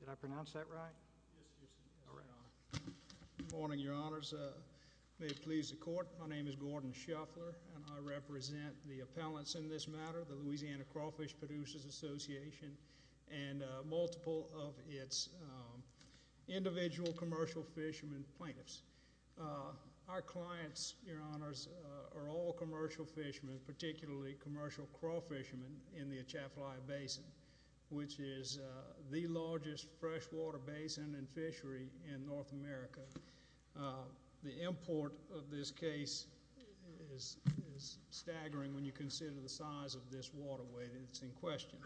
Did I pronounce that right? Good morning, your honors. May it please the court, my name is Gordon Shuffler and I represent the appellants in this matter, the Louisiana Crawfish Producers Association and multiple of its individual commercial fishermen plaintiffs. Our clients, your honors, are all which is the largest freshwater basin and fishery in North America. The import of this case is staggering when you consider the size of this waterway that's in question.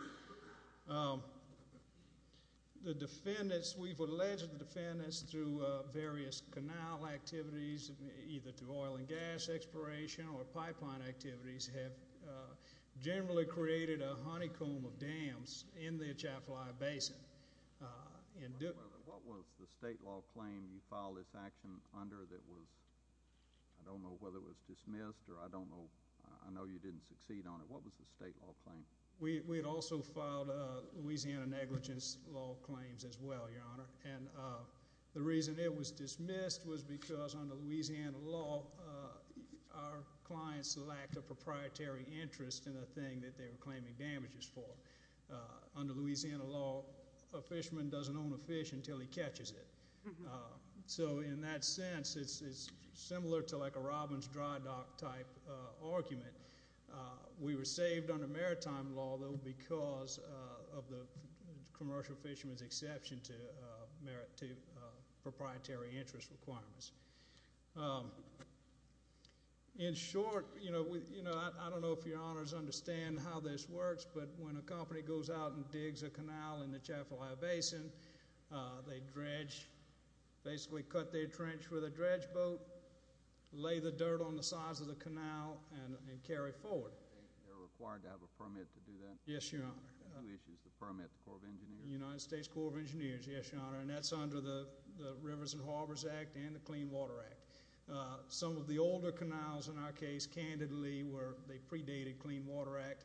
The defendants, we've alleged the defendants through various canal activities, either through oil and gas exploration or pipeline activities, have generally created a honeycomb of dams in the Atchafalaya Basin. What was the state law claim you filed this action under that was, I don't know whether it was dismissed or I don't know, I know you didn't succeed on it, what was the state law claim? We had also filed Louisiana negligence law claims as well, your honor, and the reason it was an act of proprietary interest in a thing that they were claiming damages for. Under Louisiana law, a fisherman doesn't own a fish until he catches it. So in that sense, it's similar to like a robin's dry dock type argument. We were saved under maritime law though because of the commercial fisherman's exception to proprietary interest requirements. In short, I don't know if your honors understand how this works, but when a company goes out and digs a canal in the Atchafalaya Basin, they dredge, basically cut their trench with a dredge boat, lay the dirt on the sides of the canal and carry forward. They're required to have a permit to do that? Yes, your honor. Permit to Corps of Engineers? United States Corps of Engineers, yes, your honor, and that's under the Rivers and Harbors Act and the Clean Water Act. Some of the older canals in our case, candidly, they predated Clean Water Act,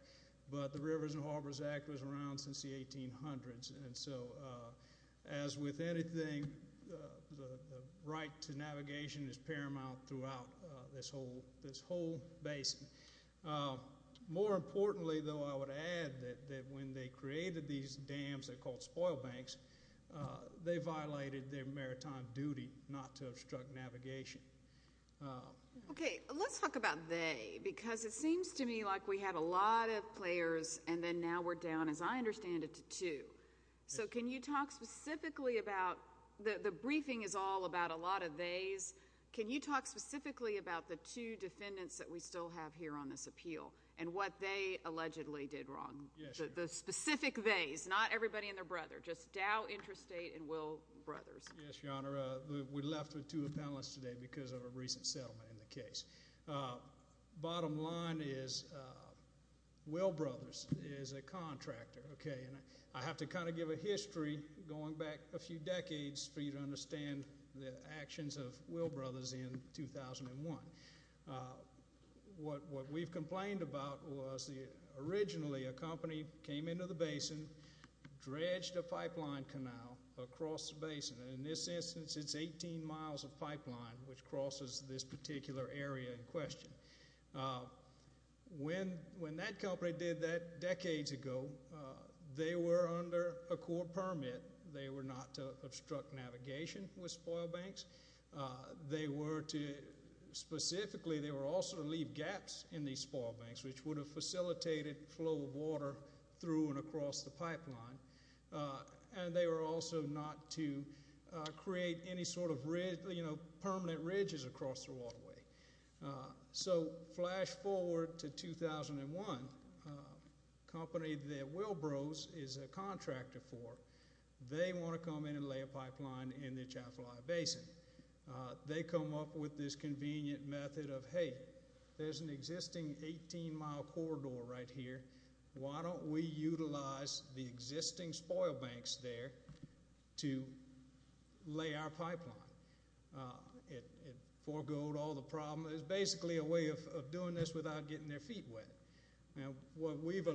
but the Rivers and Harbors Act was around since the 1800s, and so as with anything, the right to navigation is paramount throughout this whole basement. More importantly though, I would add that when they created these dams, they're called spoil banks, they violated their maritime duty not to obstruct navigation. Okay, let's talk about they because it seems to me like we had a lot of players and then now we're down, as I understand it, to two. So can you talk specifically about, the briefing is all about a lot of they's. Can you talk specifically about the two defendants that we still have here on this appeal and what they allegedly did wrong? The specific they's, not everybody and their brother, just Dow Interstate and Will Brothers. Yes, your honor, we're left with two appellants today because of a recent settlement in the case. Bottom line is, Will Brothers is a contractor, okay, and I have to kind of give a history going back a few decades for you to understand the actions of Will Brothers in 2001. What we've complained about was originally a company came into the basin, dredged a pipeline canal across the basin, and in this instance it's 18 miles of pipeline which crosses this particular area in question. When that company did that decades ago, they were under a court permit. They were not to obstruct navigation with spoil banks. They were to, specifically, they were also to leave gaps in these spoil banks which would have facilitated flow of water through and across the pipeline, and they were also not to create any sort of permanent ridges across the waterway. So, flash forward to 2001, company that Will Brothers is a contractor for, they want to come in and lay a pipeline in the Jaffa Lawyer Basin. They come up with this convenient method of, hey, there's an existing 18 mile corridor right here. Why don't we lay our pipeline? It foregoed all the problems. It's basically a way of doing this without getting their feet wet. Now, what we've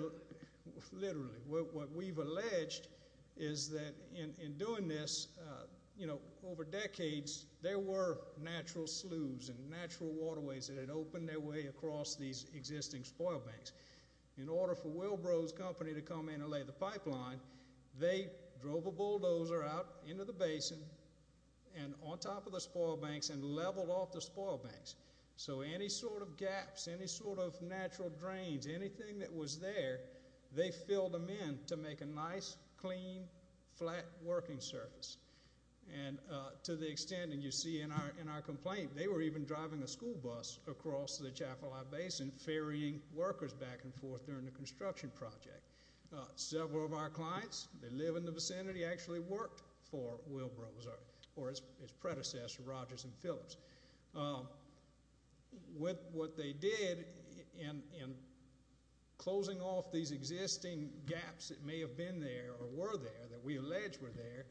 alleged is that in doing this, over decades, there were natural sloughs and natural waterways that had opened their way across these existing spoil banks. In order for Will Brothers Company to come in and lay the pipeline, they drove a bulldozer out into the basin and on top of the spoil banks and leveled off the spoil banks. So, any sort of gaps, any sort of natural drains, anything that was there, they filled them in to make a nice, clean, flat working surface. To the extent, and you see in our complaint, they were even driving a school bus across the Jaffa Lawyer Basin, ferrying workers back and forth during the construction project. Several of our clients that live in the vicinity actually worked for Will Brothers or its predecessor, Rogers and Phillips. What they did in closing off these existing gaps that may have been there or were there, that we allege were there,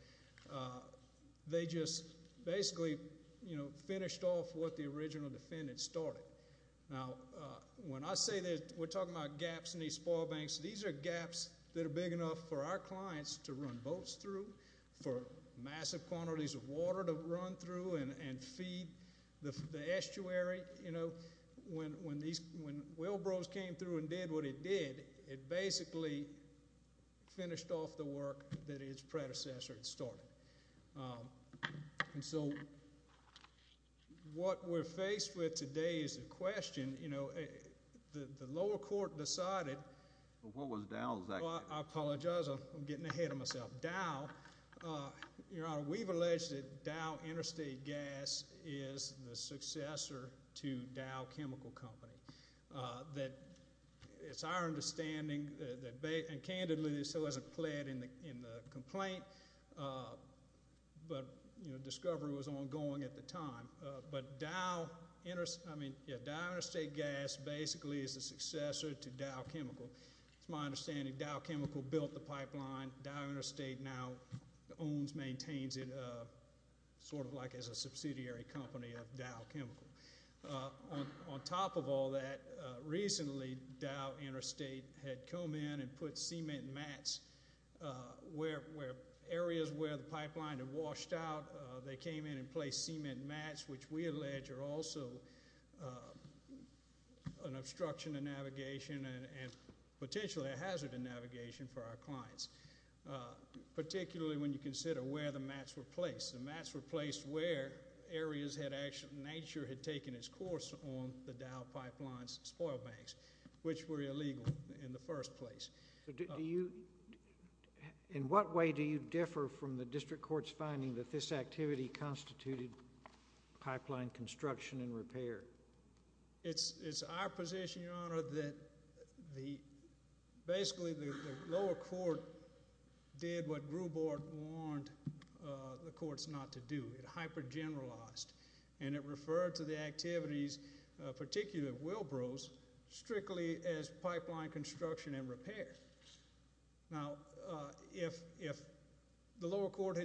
they just basically finished off what the original defendant started. Now, when I say that we're talking about gaps in these spoil banks, these are gaps that are big enough for our clients to run boats through, for massive quantities of water to run through and feed the estuary. When Will Brothers came through and did what it did, it basically finished off the work that its predecessor had started. And so, what we're faced with today is the question, you know, the lower court decided... I apologize, I'm getting ahead of myself. Dow, Your Honor, we've alleged that Dow Interstate Gas is the successor to Dow Chemical. And candidly, this wasn't pled in the complaint, but discovery was ongoing at the time. Dow Interstate Gas basically is the successor to Dow Chemical. It's my understanding Dow Chemical built the pipeline, Dow Interstate now owns, maintains it sort of like as a subsidiary company of Dow Chemical. On top of all that, recently Dow Interstate had come in and put cement mats where areas where the pipeline had washed out, they came in and placed cement mats, which we allege are also an obstruction to navigation and potentially a hazard to navigation for our clients. Particularly when you consider where the mats were placed. The mats were placed where areas where nature had taken its course on the Dow Pipeline's spoil banks, which were illegal in the first place. In what way do you differ from the district court's finding that this activity constituted pipeline construction and repair? It's our position, Your Honor, that basically the lower court did what Grubart warned the courts not to do. It hypergeneralized. And it referred to the activities, particularly at Wilbro's, strictly as pipeline construction and repair. Now, if the lower court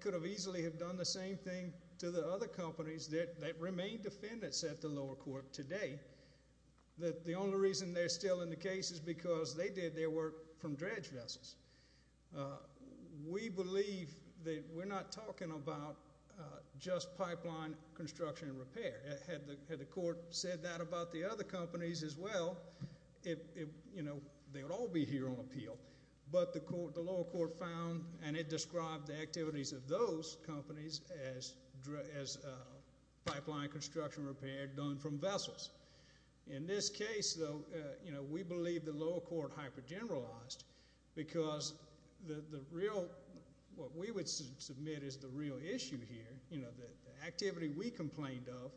could have easily done the same thing to the other companies that remain defendants at the lower court today, the only reason they're still in the case is because they did their work from dredge vessels. We believe that we're not talking about just pipeline construction and repair. Had the court said that about the other companies as well, they would all be here on appeal. But the lower court found and it described the activities of those companies as pipeline construction and repair done from vessels. In this case, though, we believe the lower court hypergeneralized because the real what we would submit is the real issue here. The activity we complained of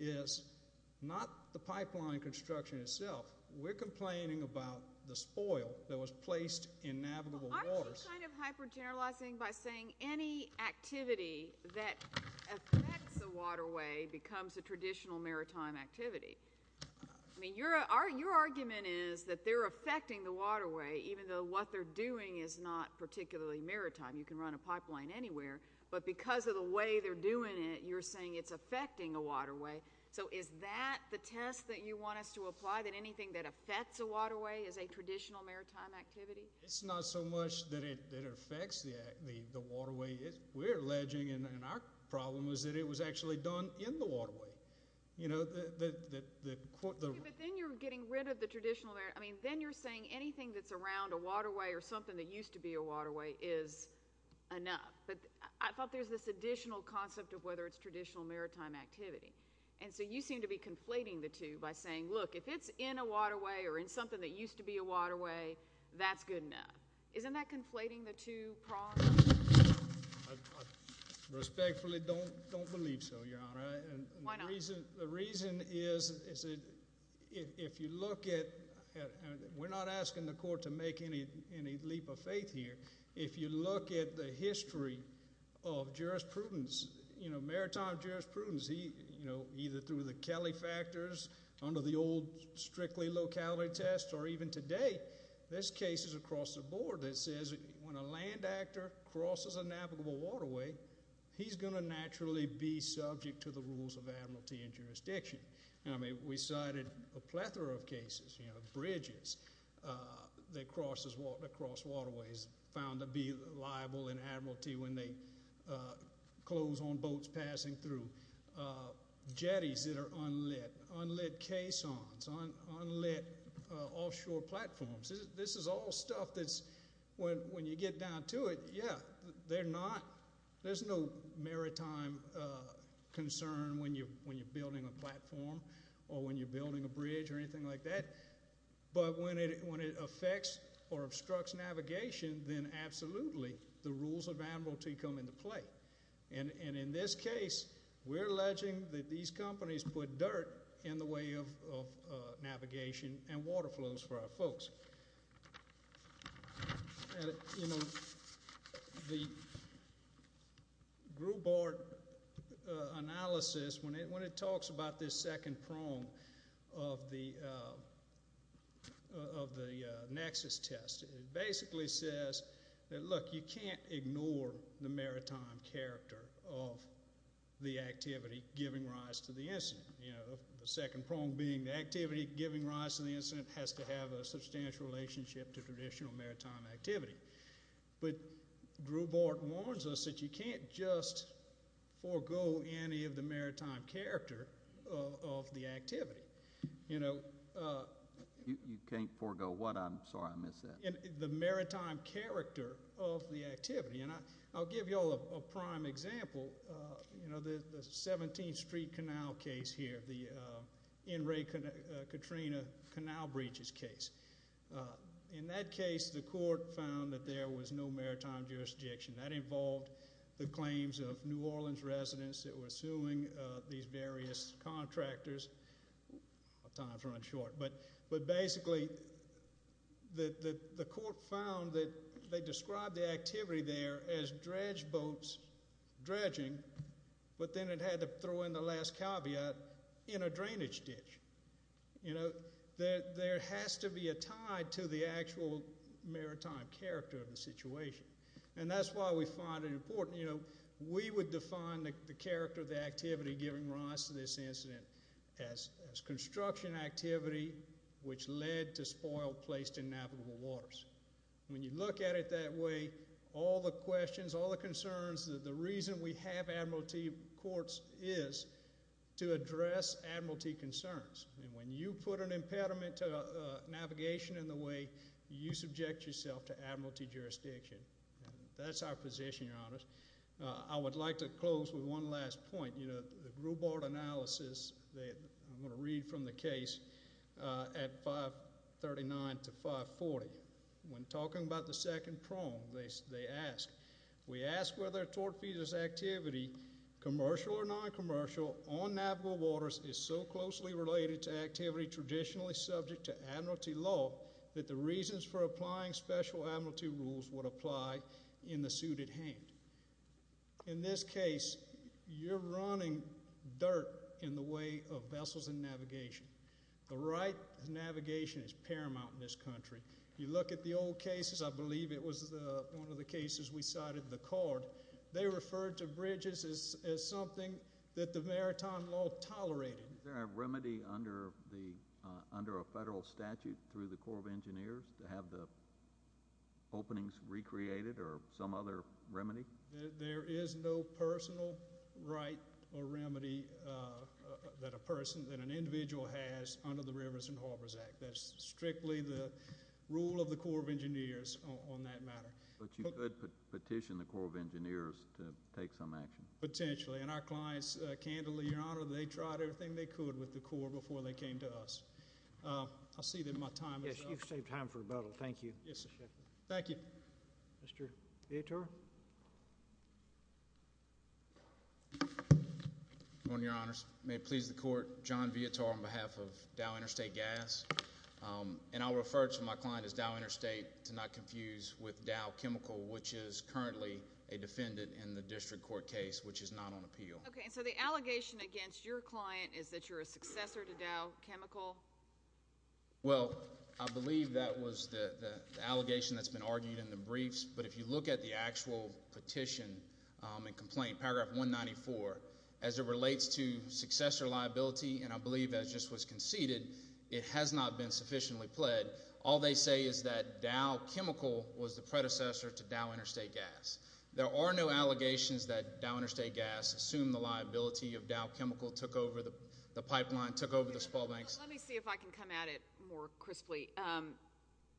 is not the pipeline construction itself. We're hypergeneralizing by saying any activity that affects the waterway becomes a traditional maritime activity. I mean, your argument is that they're affecting the waterway, even though what they're doing is not particularly maritime. You can run a pipeline anywhere. But because of the way they're doing it, you're saying it's affecting the waterway. So is that the test that you want us to apply, that anything that affects a waterway is a traditional maritime activity? It's not so much that it affects the waterway. We're alleging, and our problem was that it was actually done in the waterway. You know, the court... But then you're getting rid of the traditional. I mean, then you're saying anything that's around a waterway or something that used to be a waterway is enough. But I thought there's this additional concept of whether it's traditional in a waterway or in something that used to be a waterway, that's good enough. Isn't that conflating the two problems? I respectfully don't believe so, Your Honor. Why not? The reason is that if you look at... We're not asking the court to make any leap of faith here. If you look at the history of jurisprudence, you know, maritime telefactors under the old strictly locality test, or even today, there's cases across the board that says when a land actor crosses a navigable waterway, he's going to naturally be subject to the rules of admiralty and jurisdiction. I mean, we cited a plethora of cases, you know, bridges that cross waterways found to be liable in admiralty when they have boats passing through, jetties that are unlit, unlit caissons, unlit offshore platforms. This is all stuff that's when you get down to it, yeah, there's no maritime concern when you're building a platform or when you're building a bridge or anything like that. But when it affects or obstructs navigation, then absolutely the rules of admiralty come into play. And in this case, we're alleging that these companies put dirt in the way of navigation and water flows for our folks. You know, the group board analysis, when it talks about this second prong of the nexus test, it basically says that look, you can't ignore the maritime character of the activity giving rise to the incident. You know, the second prong being the activity giving rise to the incident has to have a substantial relationship to traditional maritime activity. But group board warns us that you can't just forego any of the maritime character of the activity. You can't forego what? I'm sorry, I missed that. The maritime character of the activity. And I'll give you all a prime example. The 17th Street Canal case here, the N. Ray Katrina Canal breaches case. In that case, the court found that there was no maritime jurisdiction. That involved the claims of New Orleans residents that were suing these various contractors. But basically, the court found that they described the activity there as dredge boats dredging, but then it had to throw in the last caveat, in a drainage ditch. You know, there has to be a tie to the actual maritime character of the situation. And that's why we find it important, you know, we would define the character of the activity giving rise to this incident as construction activity which led to spoil placed in navigable waters. When you look at it that way, all the questions, all the concerns, the reason we have admiralty courts is to address admiralty concerns. And when you put an impediment to navigation in the way, you subject yourself to admiralty jurisdiction. That's our position, your honors. I would like to close with one last point. You know, the Grubart analysis, I'm going to read from the case at 539 to 540. When talking about the second prong, they ask, we ask whether a tortfeasor's activity, commercial or non-commercial, on navigable waters is so closely related to activity traditionally subject to admiralty law that the reasons for applying special admiralty rules would apply in the suited hand. In this case, you're running dirt in the way of vessels and navigation. The right navigation is paramount in this country. You look at the old cases, I believe it was one of the cases we cited, the cord, they referred to bridges as something that the maritime law tolerated. Is there a remedy under a federal statute through the Corps of Engineers to have the openings recreated or some other remedy? There is no personal right or remedy that a person, that an individual has under the Rivers and Harbors Act. That's strictly the rule of the Corps of Engineers on that matter. But you could petition the Corps of Engineers to take some action? Potentially. And our clients, candidly, your honor, they tried everything they could with the Corps before they came to us. I'll see that my time is up. Yes, you've saved time for rebuttal. Thank you. Yes, sir. Thank you. Mr. Vietor. Your honor, may it please the court, John Vietor on behalf of Dow Interstate Gas. And I'll refer to my client as Dow Interstate to not confuse with Dow Chemical, which is currently a defendant in the district court case, which is not on appeal. Okay, so the allegation against your client is that you're a successor to Dow Chemical? Well, I believe that was the allegation that's been argued in the briefs. But if you look at the actual petition and complaint, paragraph 194, as it relates to successor liability, and I believe that just was conceded, it has not been sufficiently pled. All they say is that Dow Chemical was the predecessor to Dow Interstate Gas. There are no allegations that go with this. Let me see if I can come at it more crisply.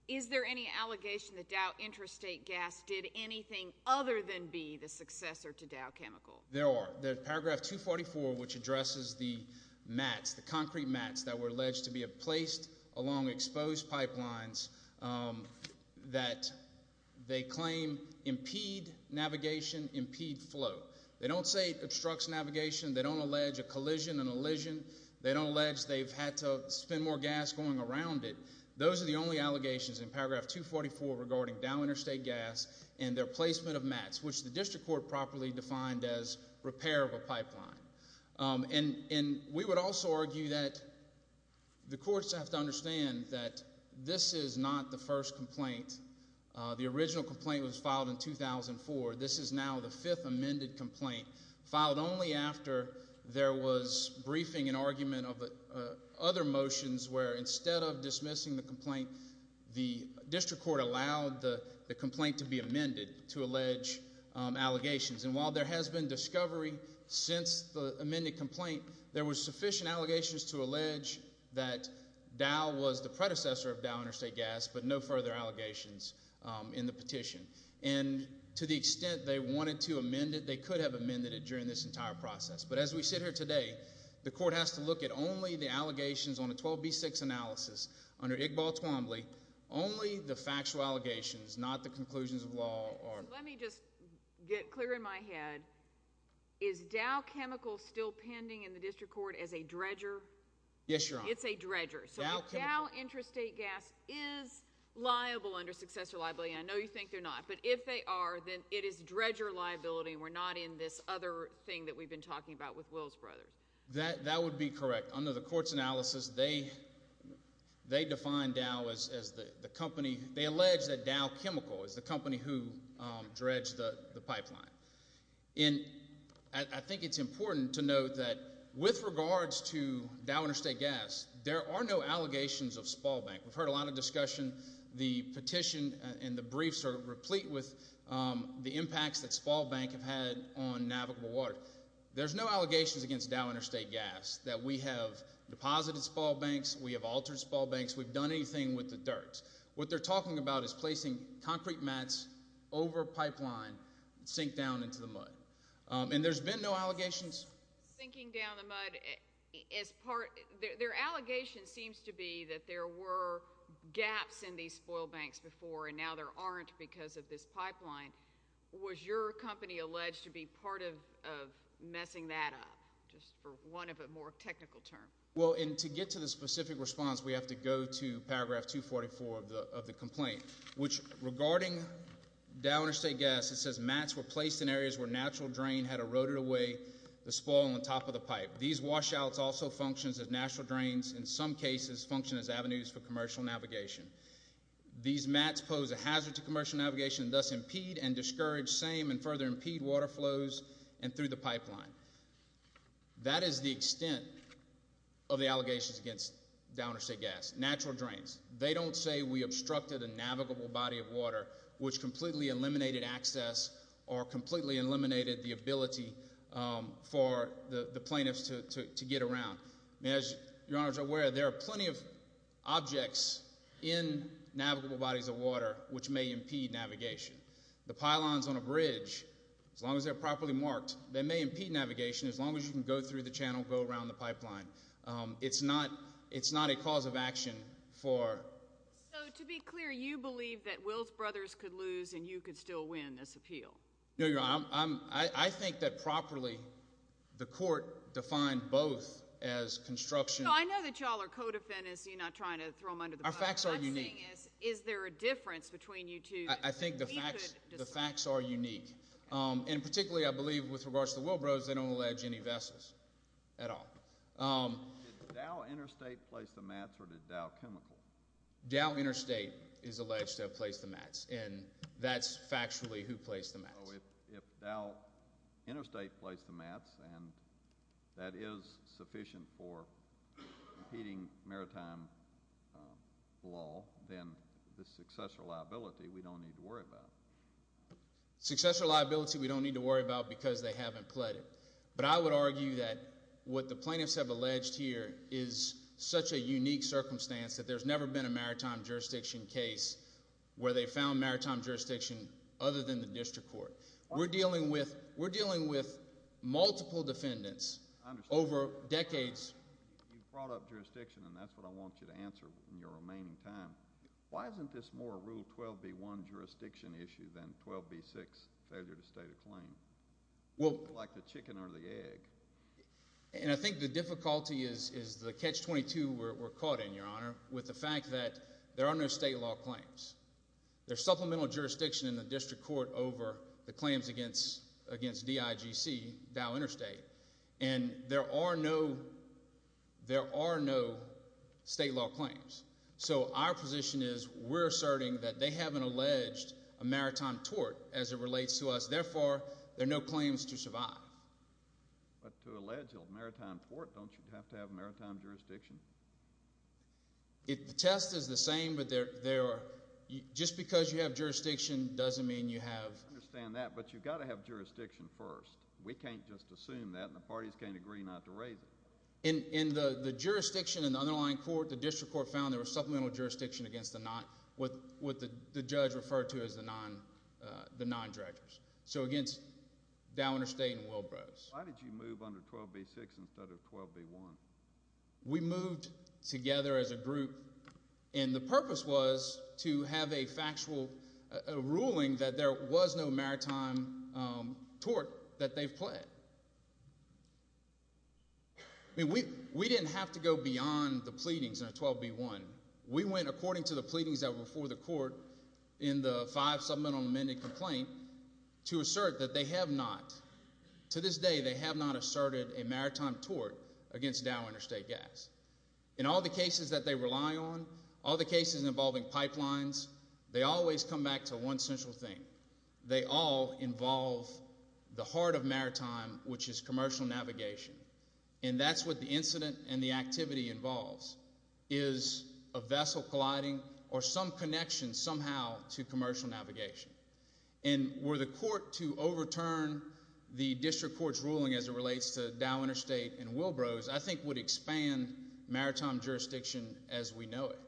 Is there any allegation that Dow Interstate Gas did anything other than be the successor to Dow Chemical? There are. There's paragraph 244, which addresses the mats, the concrete mats that were alleged to be placed along exposed pipelines that they claim impede navigation, impede flow. They don't say it obstructs navigation. They don't allege a collision, an elision. They don't allege they've had to spend more gas going around it. Those are the only allegations in paragraph 244 regarding Dow Interstate Gas and their placement of mats, which the district court properly defined as repair of a pipeline. And we would also argue that the courts have to understand that this is not the first complaint. The original complaint was filed in 2004. This is now the fifth amended complaint, filed only after there was briefing and argument of other motions where instead of dismissing the complaint, the district court allowed the complaint to be amended to allege allegations. And while there has been discovery since the amended complaint, there were sufficient allegations to the extent they wanted to amend it, they could have amended it during this entire process. But as we sit here today, the court has to look at only the allegations on a 12B6 analysis under Iqbal Twombly, only the factual allegations, not the conclusions of law. Let me just get clear in my head. Is Dow Chemical still pending in the district court as a dredger? Yes, Your Honor. It's a dredger. So Dow Interstate Gas is liable under successor liability. I know you think they're not. But if they are, then it is dredger liability. We're not in this other thing that we've been talking about with Wills Brothers. That would be correct. Under the court's analysis, they defined Dow as the company they allege that Dow Chemical is the company who dredged the pipeline. And I think it's important to note that with regards to Dow Interstate Gas, there are no allegations of Spalbank. We've heard a lot of discussion. The petition and the briefs are replete with the impacts that Spalbank have had on navigable water. There's no allegations against Dow Interstate Gas that we have deposited Spalbanks, we have altered Spalbanks, we've done anything with the dirt. What they're talking about is placing concrete mats over pipeline that sink down into the mud. And there's been no allegations. Their allegation seems to be that there were gaps in these Spalbanks before and now there aren't because of this pipeline. Was your company alleged to be part of messing that up, just for one of a more of the complaint. Which regarding Dow Interstate Gas, it says mats were placed in areas where natural drain had eroded away the spoil on top of the pipe. These washouts also function as natural drains, in some cases function as avenues for commercial navigation. These mats pose a hazard to commercial navigation and thus impede and discourage same and further impede water flows and through the pipeline. That is the extent of the allegations against Dow Interstate Gas. Natural drains, they don't say we obstructed a navigable body of water which completely eliminated access or completely eliminated the ability for the plaintiffs to get around. As your Honor is aware, there are plenty of objects in navigable bodies of water which may impede navigation. The pylons on a bridge, as long as they're properly marked, they may impede navigation as long as you can go through the channel, go around the pipeline. It's not a cause of action for So to be clear, you believe that Wills Brothers could lose and you could still win this appeal. No, Your Honor. I think that properly the court defined both as construction. I know that y'all are co-defendants, you're not trying to throw them under the bus. Our facts are unique. Is there a difference between you two? I think the facts are unique. And particularly I believe with regards to the Wills Brothers, they don't allege any vessels at all. Did Dow Interstate place the mats or did Dow Chemical? Dow Interstate is alleged to have placed the mats and that's factually who placed the mats. If Dow Interstate placed the mats and that is sufficient for impeding maritime law, then the successor liability we don't need to worry about. Successor liability we don't need to worry about because they haven't pled it. But I would argue that what the plaintiffs have alleged here is such a unique circumstance that there's never been a maritime jurisdiction case where they found maritime jurisdiction other than the district court. We're dealing with multiple defendants over decades. You brought up jurisdiction and that's what I want you to answer in your remaining time. Why isn't this more a Rule 12b-1 jurisdiction issue than 12b-6 failure to state a claim? Like the chicken or the egg. And I think the difficulty is the catch-22 we're caught in, Your Honor, with the fact that there are no state law claims. There's supplemental jurisdiction in the district court over the claims against DIGC, Dow Interstate, and there are no state law claims. So our position is we're asserting that they haven't alleged a maritime tort as it relates to us. Therefore, there are no claims to survive. But to allege a maritime tort, don't you have to have maritime jurisdiction? The test is the same, but just because you have jurisdiction doesn't mean you have. I understand that, but you've got to have jurisdiction first. We can't just assume that and the parties can't agree not to raise it. In the jurisdiction in the underlying court, the district court found there was supplemental jurisdiction against what the judge referred to as the non-dredgers. So against Dow Interstate and Wilbrose. Why did you move under 12b-6 instead of 12b-1? We moved together as a group, and the purpose was to have a factual ruling that there was no maritime tort that they've pledged. We didn't have to go beyond the pleadings in 12b-1. We went according to the pleadings that were before the court in the 5 supplemental amended complaint to assert that they have not, to this day, they have not asserted a maritime tort against Dow Interstate Gas. In all the cases that they rely on, all the cases involving pipelines, they always come back to one essential thing. They all involve the heart of maritime, which is commercial navigation. And that's what the incident and the activity involves, is a vessel colliding or some connection somehow to commercial navigation. And were the court to overturn the district court's ruling as it relates to Dow Interstate and Wilbrose, I think it would expand maritime jurisdiction as we know it.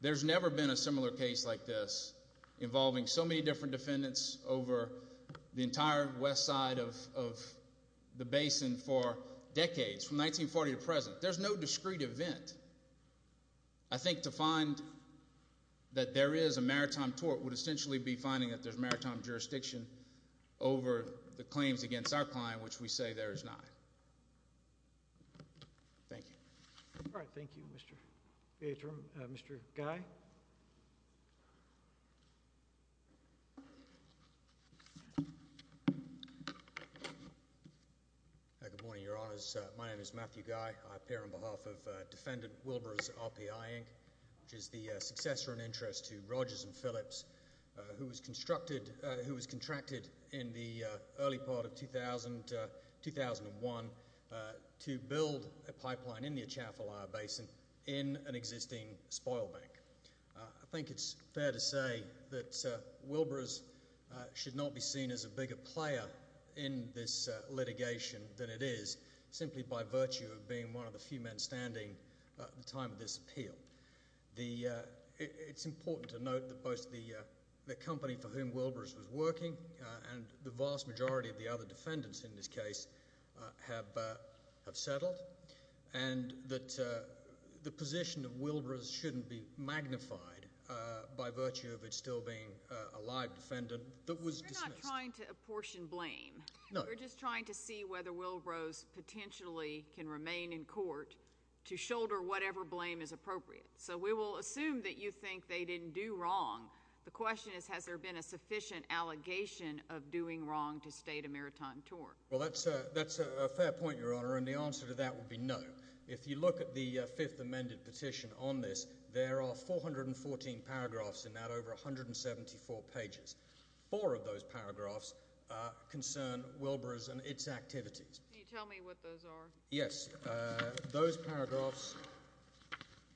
There's never been a similar case like this involving so many different defendants over the entire west side of the basin for decades, from 1940 to present. There's no discrete event. I think to find that there is a maritime tort would essentially be finding that there's maritime jurisdiction over the claims against our client, which we say there is not. Thank you. Mr. Guy. Good morning, Your Honors. My name is Matthew Guy. I appear on behalf of Defendant Wilbrose, RPI, Inc., which is the successor in interest to Rogers and Phillips, who was one to build a pipeline in the Atchafalaya Basin in an existing spoil bank. I think it's fair to say that Wilbrose should not be seen as a bigger player in this litigation than it is simply by virtue of being one of the few men standing at the time of this appeal. It's important to note that both the company for whom Wilbrose was working and the vast majority of the other defendants in this case have settled, and that the position of Wilbrose shouldn't be magnified by virtue of it still being a live defendant that was dismissed. You're not trying to apportion blame. No. We're just trying to see whether Wilbrose potentially can remain in court to shoulder whatever blame is appropriate. So we will assume that you think they didn't do wrong. The question is, has there been a sufficient allegation of doing wrong to state a maritime tort? Well, that's a fair point, Your Honor, and the answer to that would be no. If you look at the fifth amended petition on this, there are 414 paragraphs in that, over 174 pages. Four of those paragraphs concern Wilbrose and its activities. Can you tell me what those are? Yes. Those paragraphs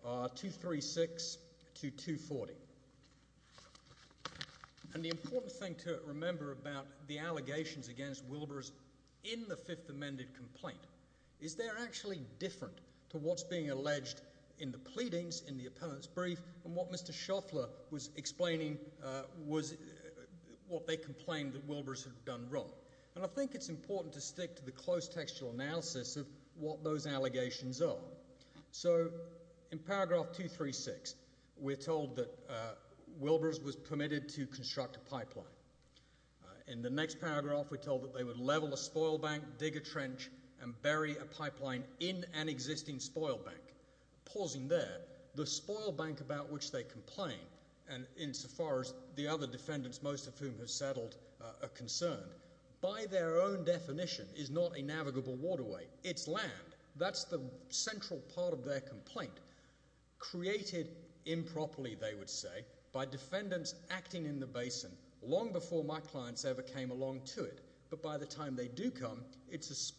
are 236 to 240. And the important thing to remember about the allegations against Wilbrose in the fifth amended complaint is they're actually different to what's being alleged in the pleadings, in the appellant's brief, and what Mr. Shuffler was explaining was what they complained that Wilbrose had done wrong. And I think it's important to stick to the close textual analysis of what those allegations are. So in paragraph 236, we're told that Wilbrose was permitted to construct a pipeline. In the next paragraph, we're told that they would level a spoil bank, dig a trench, and bury a pipeline in an existing spoil bank. Pausing there, the spoil bank about which they complain, and insofar as the other defendants, most of whom have settled, are concerned, by their own definition is not a navigable waterway. It's land. That's the central part of their complaint. Created improperly, they would say, by defendants acting in the basin long before my clients ever came along to it, but by the time they do come, it's a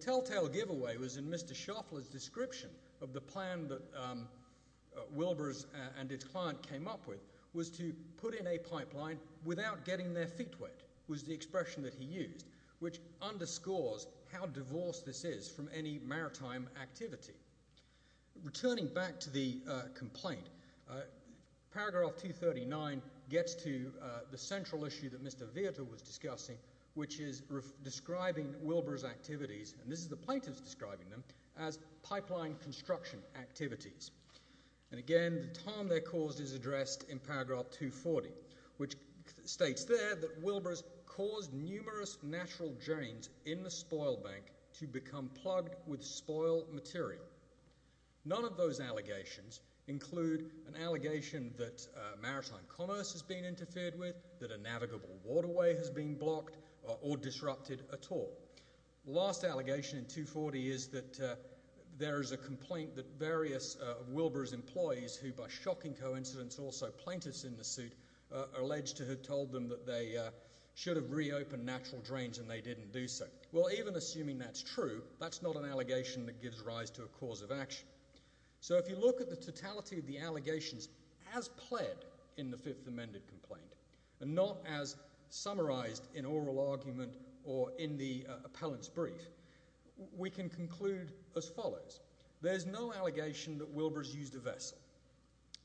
Telltale giveaway was in Mr. Shuffler's description of the plan that Wilbrose and his client came up with was to put in a pipeline without getting their feet wet, was the expression that he used, which underscores how divorced this is from any maritime activity. Returning back to the complaint, paragraph 239 gets to the central issue that Mr. Vietor was discussing, which is describing Wilbrose activities, and this is the plaintiff's describing them, as pipeline construction activities. Again, the time they're caused is addressed in paragraph 240, which states there that Wilbrose caused numerous natural drains in the spoil bank to become plugged with spoil material. None of those allegations include an allegation that maritime commerce has been interfered with, that a navigable waterway has been blocked or disrupted at all. The last allegation in 240 is that there is a complaint that various of Wilbrose employees, who by shocking coincidence also plaintiffs in the suit, alleged to have told them that they should have reopened natural drains and they didn't do so. Well, even assuming that's true, that's not an allegation that gives rise to a cause of action. So if you look at the totality of the allegations as pled in the Fifth Amendment complaint, and not as summarized in oral argument or in the appellant's brief, we can conclude as follows. There's no allegation that Wilbrose used a vessel.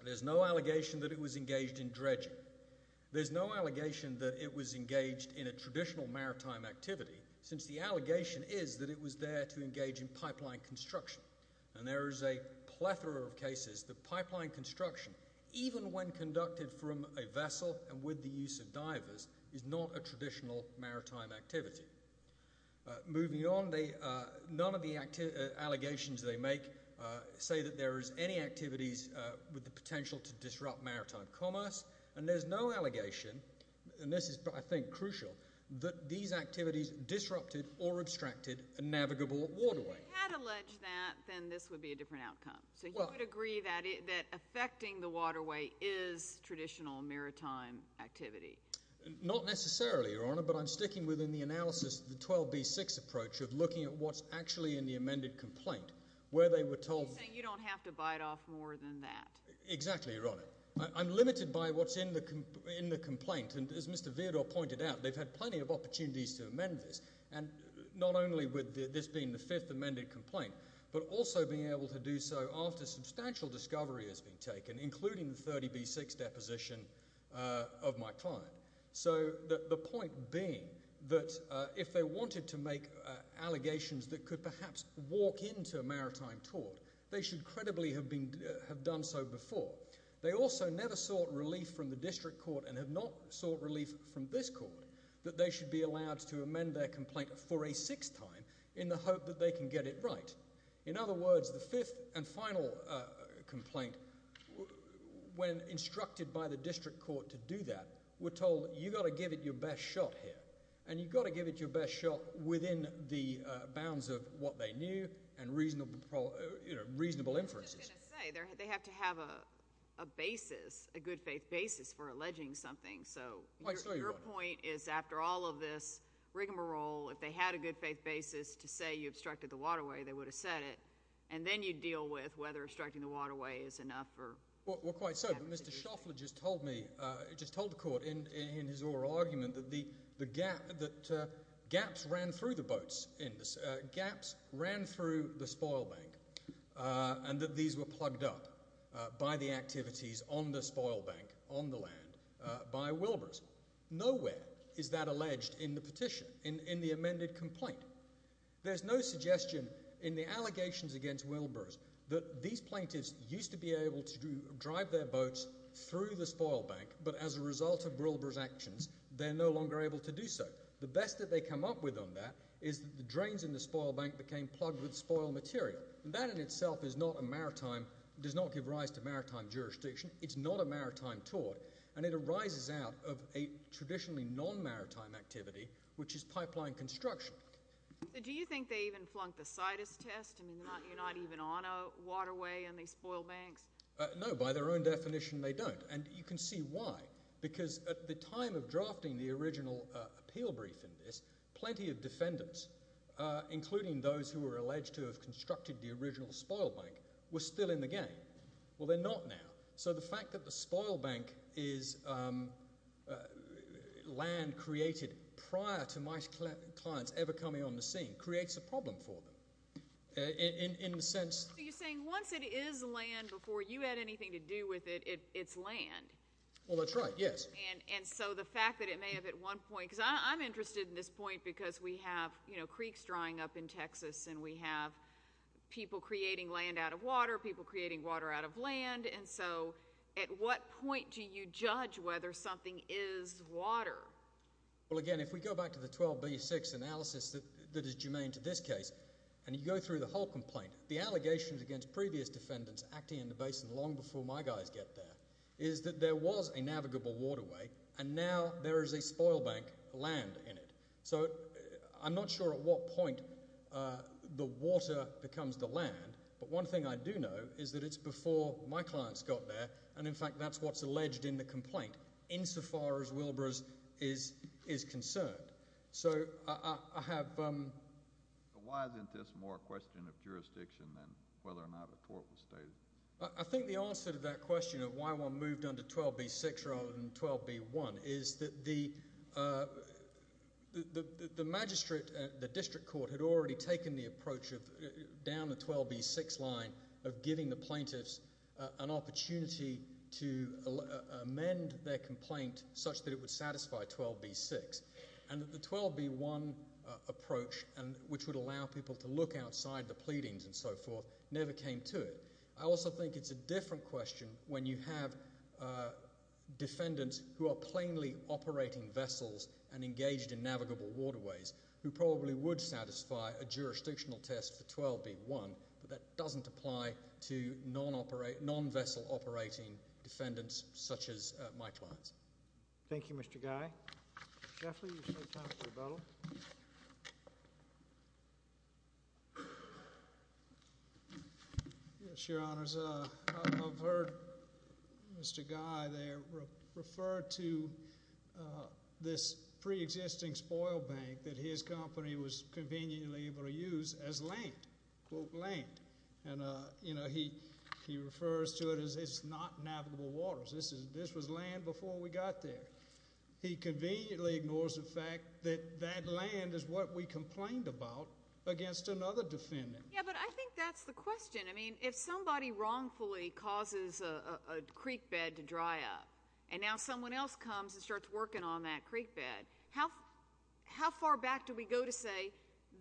There's no allegation that it was engaged in dredging. There's no allegation that it was there to engage in pipeline construction. And there is a plethora of cases that pipeline construction, even when conducted from a vessel and with the use of divers, is not a traditional maritime activity. Moving on, none of the allegations they make say that there is any activities with the potential to disrupt maritime commerce. And there's no allegation, and this is I think crucial, that these activities disrupted or abstracted a navigable waterway. If you had alleged that, then this would be a different outcome. So you would agree that affecting the waterway is traditional maritime activity? Not necessarily, Your Honor, but I'm sticking within the analysis of the 12B6 approach of looking at what's actually in the amended complaint, where they were told... You're saying you don't have to bite off more than that. Exactly, Your Honor. I'm limited by what's in the complaint. And as Mr. Vierdor pointed out, they've had plenty of opportunities to amend this. And not only with this being the fifth amended complaint, but also being able to do so after substantial discovery has been taken, including the 30B6 deposition of my client. So the point being that if they wanted to make allegations that could perhaps walk into a maritime tort, they should credibly have done so before. They also never sought relief from the district court and have not sought relief from this court that they should be allowed to amend their complaint for a sixth time in the hope that they can get it right. In other words, the fifth and final complaint when instructed by the district court to do that, were told you've got to give it your best shot here. And you've got to give it your best shot within the bounds of what they knew and reasonable inferences. I was just going to say, they have to have a basis, a good faith basis for alleging something. So your point is after all of this rigmarole, if they had a good faith basis to say you obstructed the waterway, they would have said it. And then you deal with whether obstructing the waterway is enough or... Well quite so, but Mr. Shoffler just told me, just told the court in his oral argument that gaps ran through the boats, gaps ran through the spoil bank and that these were plugged up by the activities on the spoil bank, on the land by Wilbur's. Nowhere is that alleged in the petition, in the amended complaint. There's no suggestion in the allegations against Wilbur's that these plaintiffs used to be able to drive their boats through the spoil bank, but as a result of Wilbur's actions, they're no longer able to do so. The best that they come up with on that is that the drains in the spoil bank became plugged with spoil material. That in itself is not a maritime, does not give rise to maritime jurisdiction. It's not a maritime tort. And it arises out of a traditionally non-maritime activity, which is pipeline construction. So do you think they even flunked the situs test? I mean, you're not even on a waterway in these spoil banks? No, by their own definition they don't. And you can see why. Because at the time of drafting the original appeal brief in this, plenty of defendants, including those who were alleged to have constructed the original spoil bank, were still in the game. Well they're not now. So the fact that the spoil bank is land created prior to my clients ever coming on the scene creates a problem for them. In the sense... So you're saying once it is land before you had anything to do with it, it's land? Well that's right, yes. And so the fact that it may have at one point, because I'm interested in this point because we have creeks drying up in Texas and we have people creating land out of water, people creating water out of land, and so at what point do you judge whether something is water? Well again, if we go back to the 12B6 analysis that is germane to this case, and you go through the whole complaint, the allegations against previous defendants acting in the basin long before my guys get there, is that there was a navigable waterway and now there is a the water becomes the land. But one thing I do know is that it's before my clients got there, and in fact that's what's alleged in the complaint, insofar as Wilbur's is concerned. So I have... Why isn't this more a question of jurisdiction than whether or not a tort was stated? I think the answer to that question of why one moved under 12B6 rather than 12B1 is that the magistrate at the district court had already taken the approach of down the 12B6 line of giving the plaintiffs an opportunity to amend their complaint such that it would satisfy 12B6. And the 12B1 approach, which would allow people to look outside the pleadings and so forth, never came to it. I also think it's a different question when you have defendants who are plainly operating vessels and engaged in navigable waterways who probably would satisfy a jurisdictional test for 12B1, but that doesn't apply to non-vessel operating defendants such as my clients. Thank you, Mr. Guy. Mr. Sheffley, you're still time for rebuttal. Yes, Your Honors. I've heard Mr. Guy there refer to this pre-existing spoil bank that his company was conveniently able to use as land, quote land. And he refers to it as it's not navigable waters. This was land before we got there. He conveniently ignores the fact that that land is what we complained about against another defendant. Yeah, but I think that's the question. I mean, if somebody wrongfully causes a creek bed to dry up and now someone else comes and starts working on that creek bed, how far back do we go to say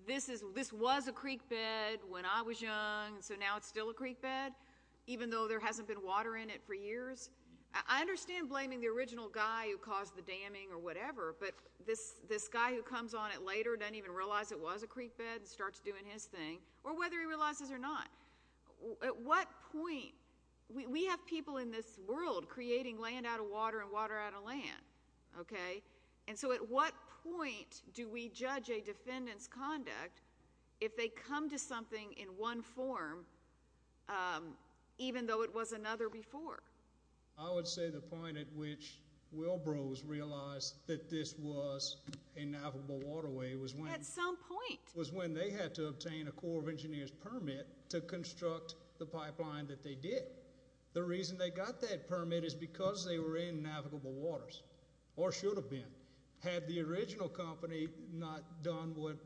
this was a creek bed, even though there hasn't been water in it for years? I understand blaming the original guy who caused the damming or whatever, but this guy who comes on it later doesn't even realize it was a creek bed and starts doing his thing, or whether he realizes it or not. At what point? We have people in this world creating land out of water and water out of land, okay? And so at what point do we judge a defendant's even though it was another before? I would say the point at which Wilbros realized that this was a navigable waterway was when they had to obtain a Corps of Engineers permit to construct the pipeline that they did. The reason they got that permit is because they were in navigable waters, or should have been. Had the original company not done what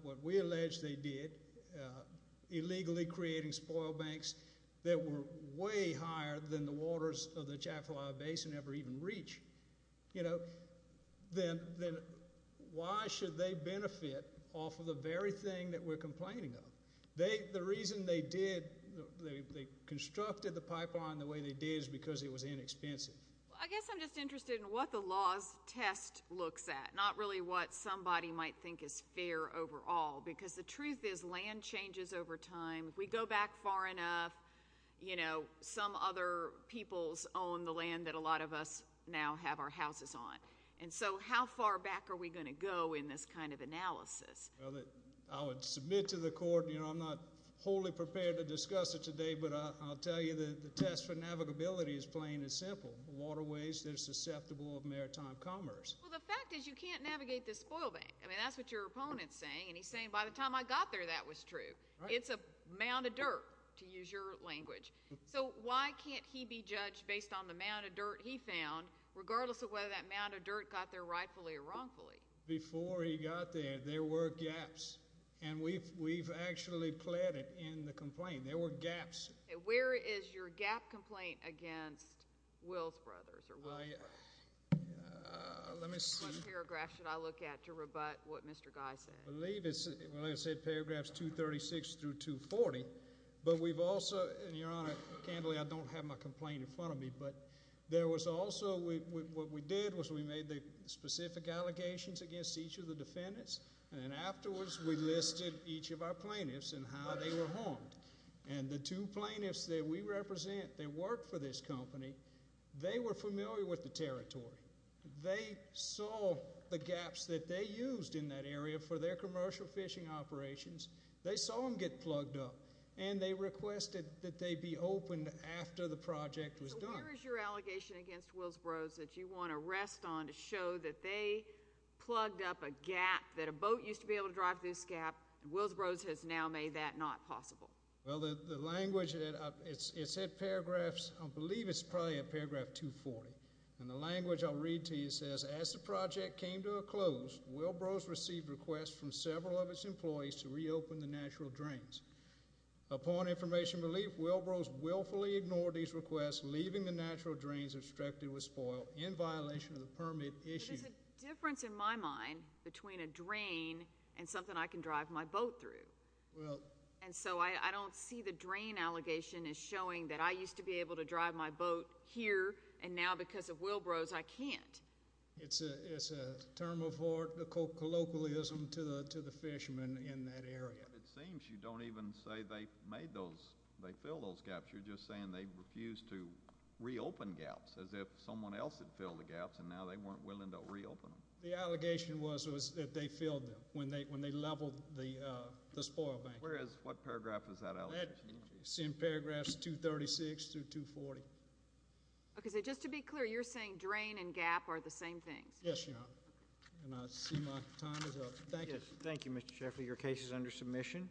they were way higher than the waters of the Jaffa Basin ever even reached, you know, then why should they benefit off of the very thing that we're complaining of? The reason they did, they constructed the pipeline the way they did is because it was inexpensive. I guess I'm just interested in what the law's test looks at, not really what somebody might think is fair overall, because the truth is land changes over time. We go back far enough, you know, some other peoples own the land that a lot of us now have our houses on. And so how far back are we going to go in this kind of analysis? I would submit to the court, you know, I'm not wholly prepared to discuss it today, but I'll tell you that the test for navigability is plain and simple. Waterways that are susceptible of maritime commerce. Well, the fact is you can't navigate this spoil bank. I mean, that's what your opponent's saying, and he's saying by the time I got there that was true. It's a mound of dirt, to use your language. So why can't he be judged based on the mound of dirt he found, regardless of whether that mound of dirt got there rightfully or wrongfully? Before he got there, there were gaps. And we've actually pled it in the complaint. There were gaps. Where is your gap complaint against Wills Brothers? Let me see. What paragraph should I look at to rebut what Mr. Guy said? I believe it's, like I said, paragraphs 236 through 240. But we've also, and Your Honor, candidly, I don't have my complaint in front of me, but there was also, what we did was we made the specific allegations against each of the defendants, and afterwards we listed each of our plaintiffs and how they were harmed. And the two plaintiffs that we represent that work for this company, they were familiar with the territory. They saw the gaps that they used in that area for their commercial fishing operations. They saw them get plugged up, and they requested that they be opened after the project was done. So where is your allegation against Wills Brothers that you want to rest on to show that they plugged up a gap, that a boat used to be able to drive through this gap, and Wills Brothers has now made that not possible? Well, the language, it said paragraphs, I believe it's probably at paragraph 240. And the language I'll read to you says, As the project came to a close, Wills Brothers received requests from several of its employees to reopen the natural drains. Upon information relief, Wills Brothers willfully ignored these requests, leaving the natural drains obstructed with spoil in violation of the permit issued. But there's a difference in my mind between a drain and something I can drive my boat through. And so I don't see the drain allegation as showing that I used to be able to drive my boat here, and now because of Wills Brothers, I can't. It's a term of colloquialism to the fishermen in that area. It seems you don't even say they filled those gaps. You're just saying they refused to reopen gaps as if someone else had filled the gaps, and now they weren't willing to reopen them. The allegation was that they filled them when they leveled the spoil bank. Where is, what paragraph is that allegation? It's in paragraphs 236 through 240. Okay, so just to be clear, you're saying drain and gap are the same thing? Yes, Your Honor. And I see my time is up. Thank you. Thank you, Mr. Sheffield. Your case is under submission.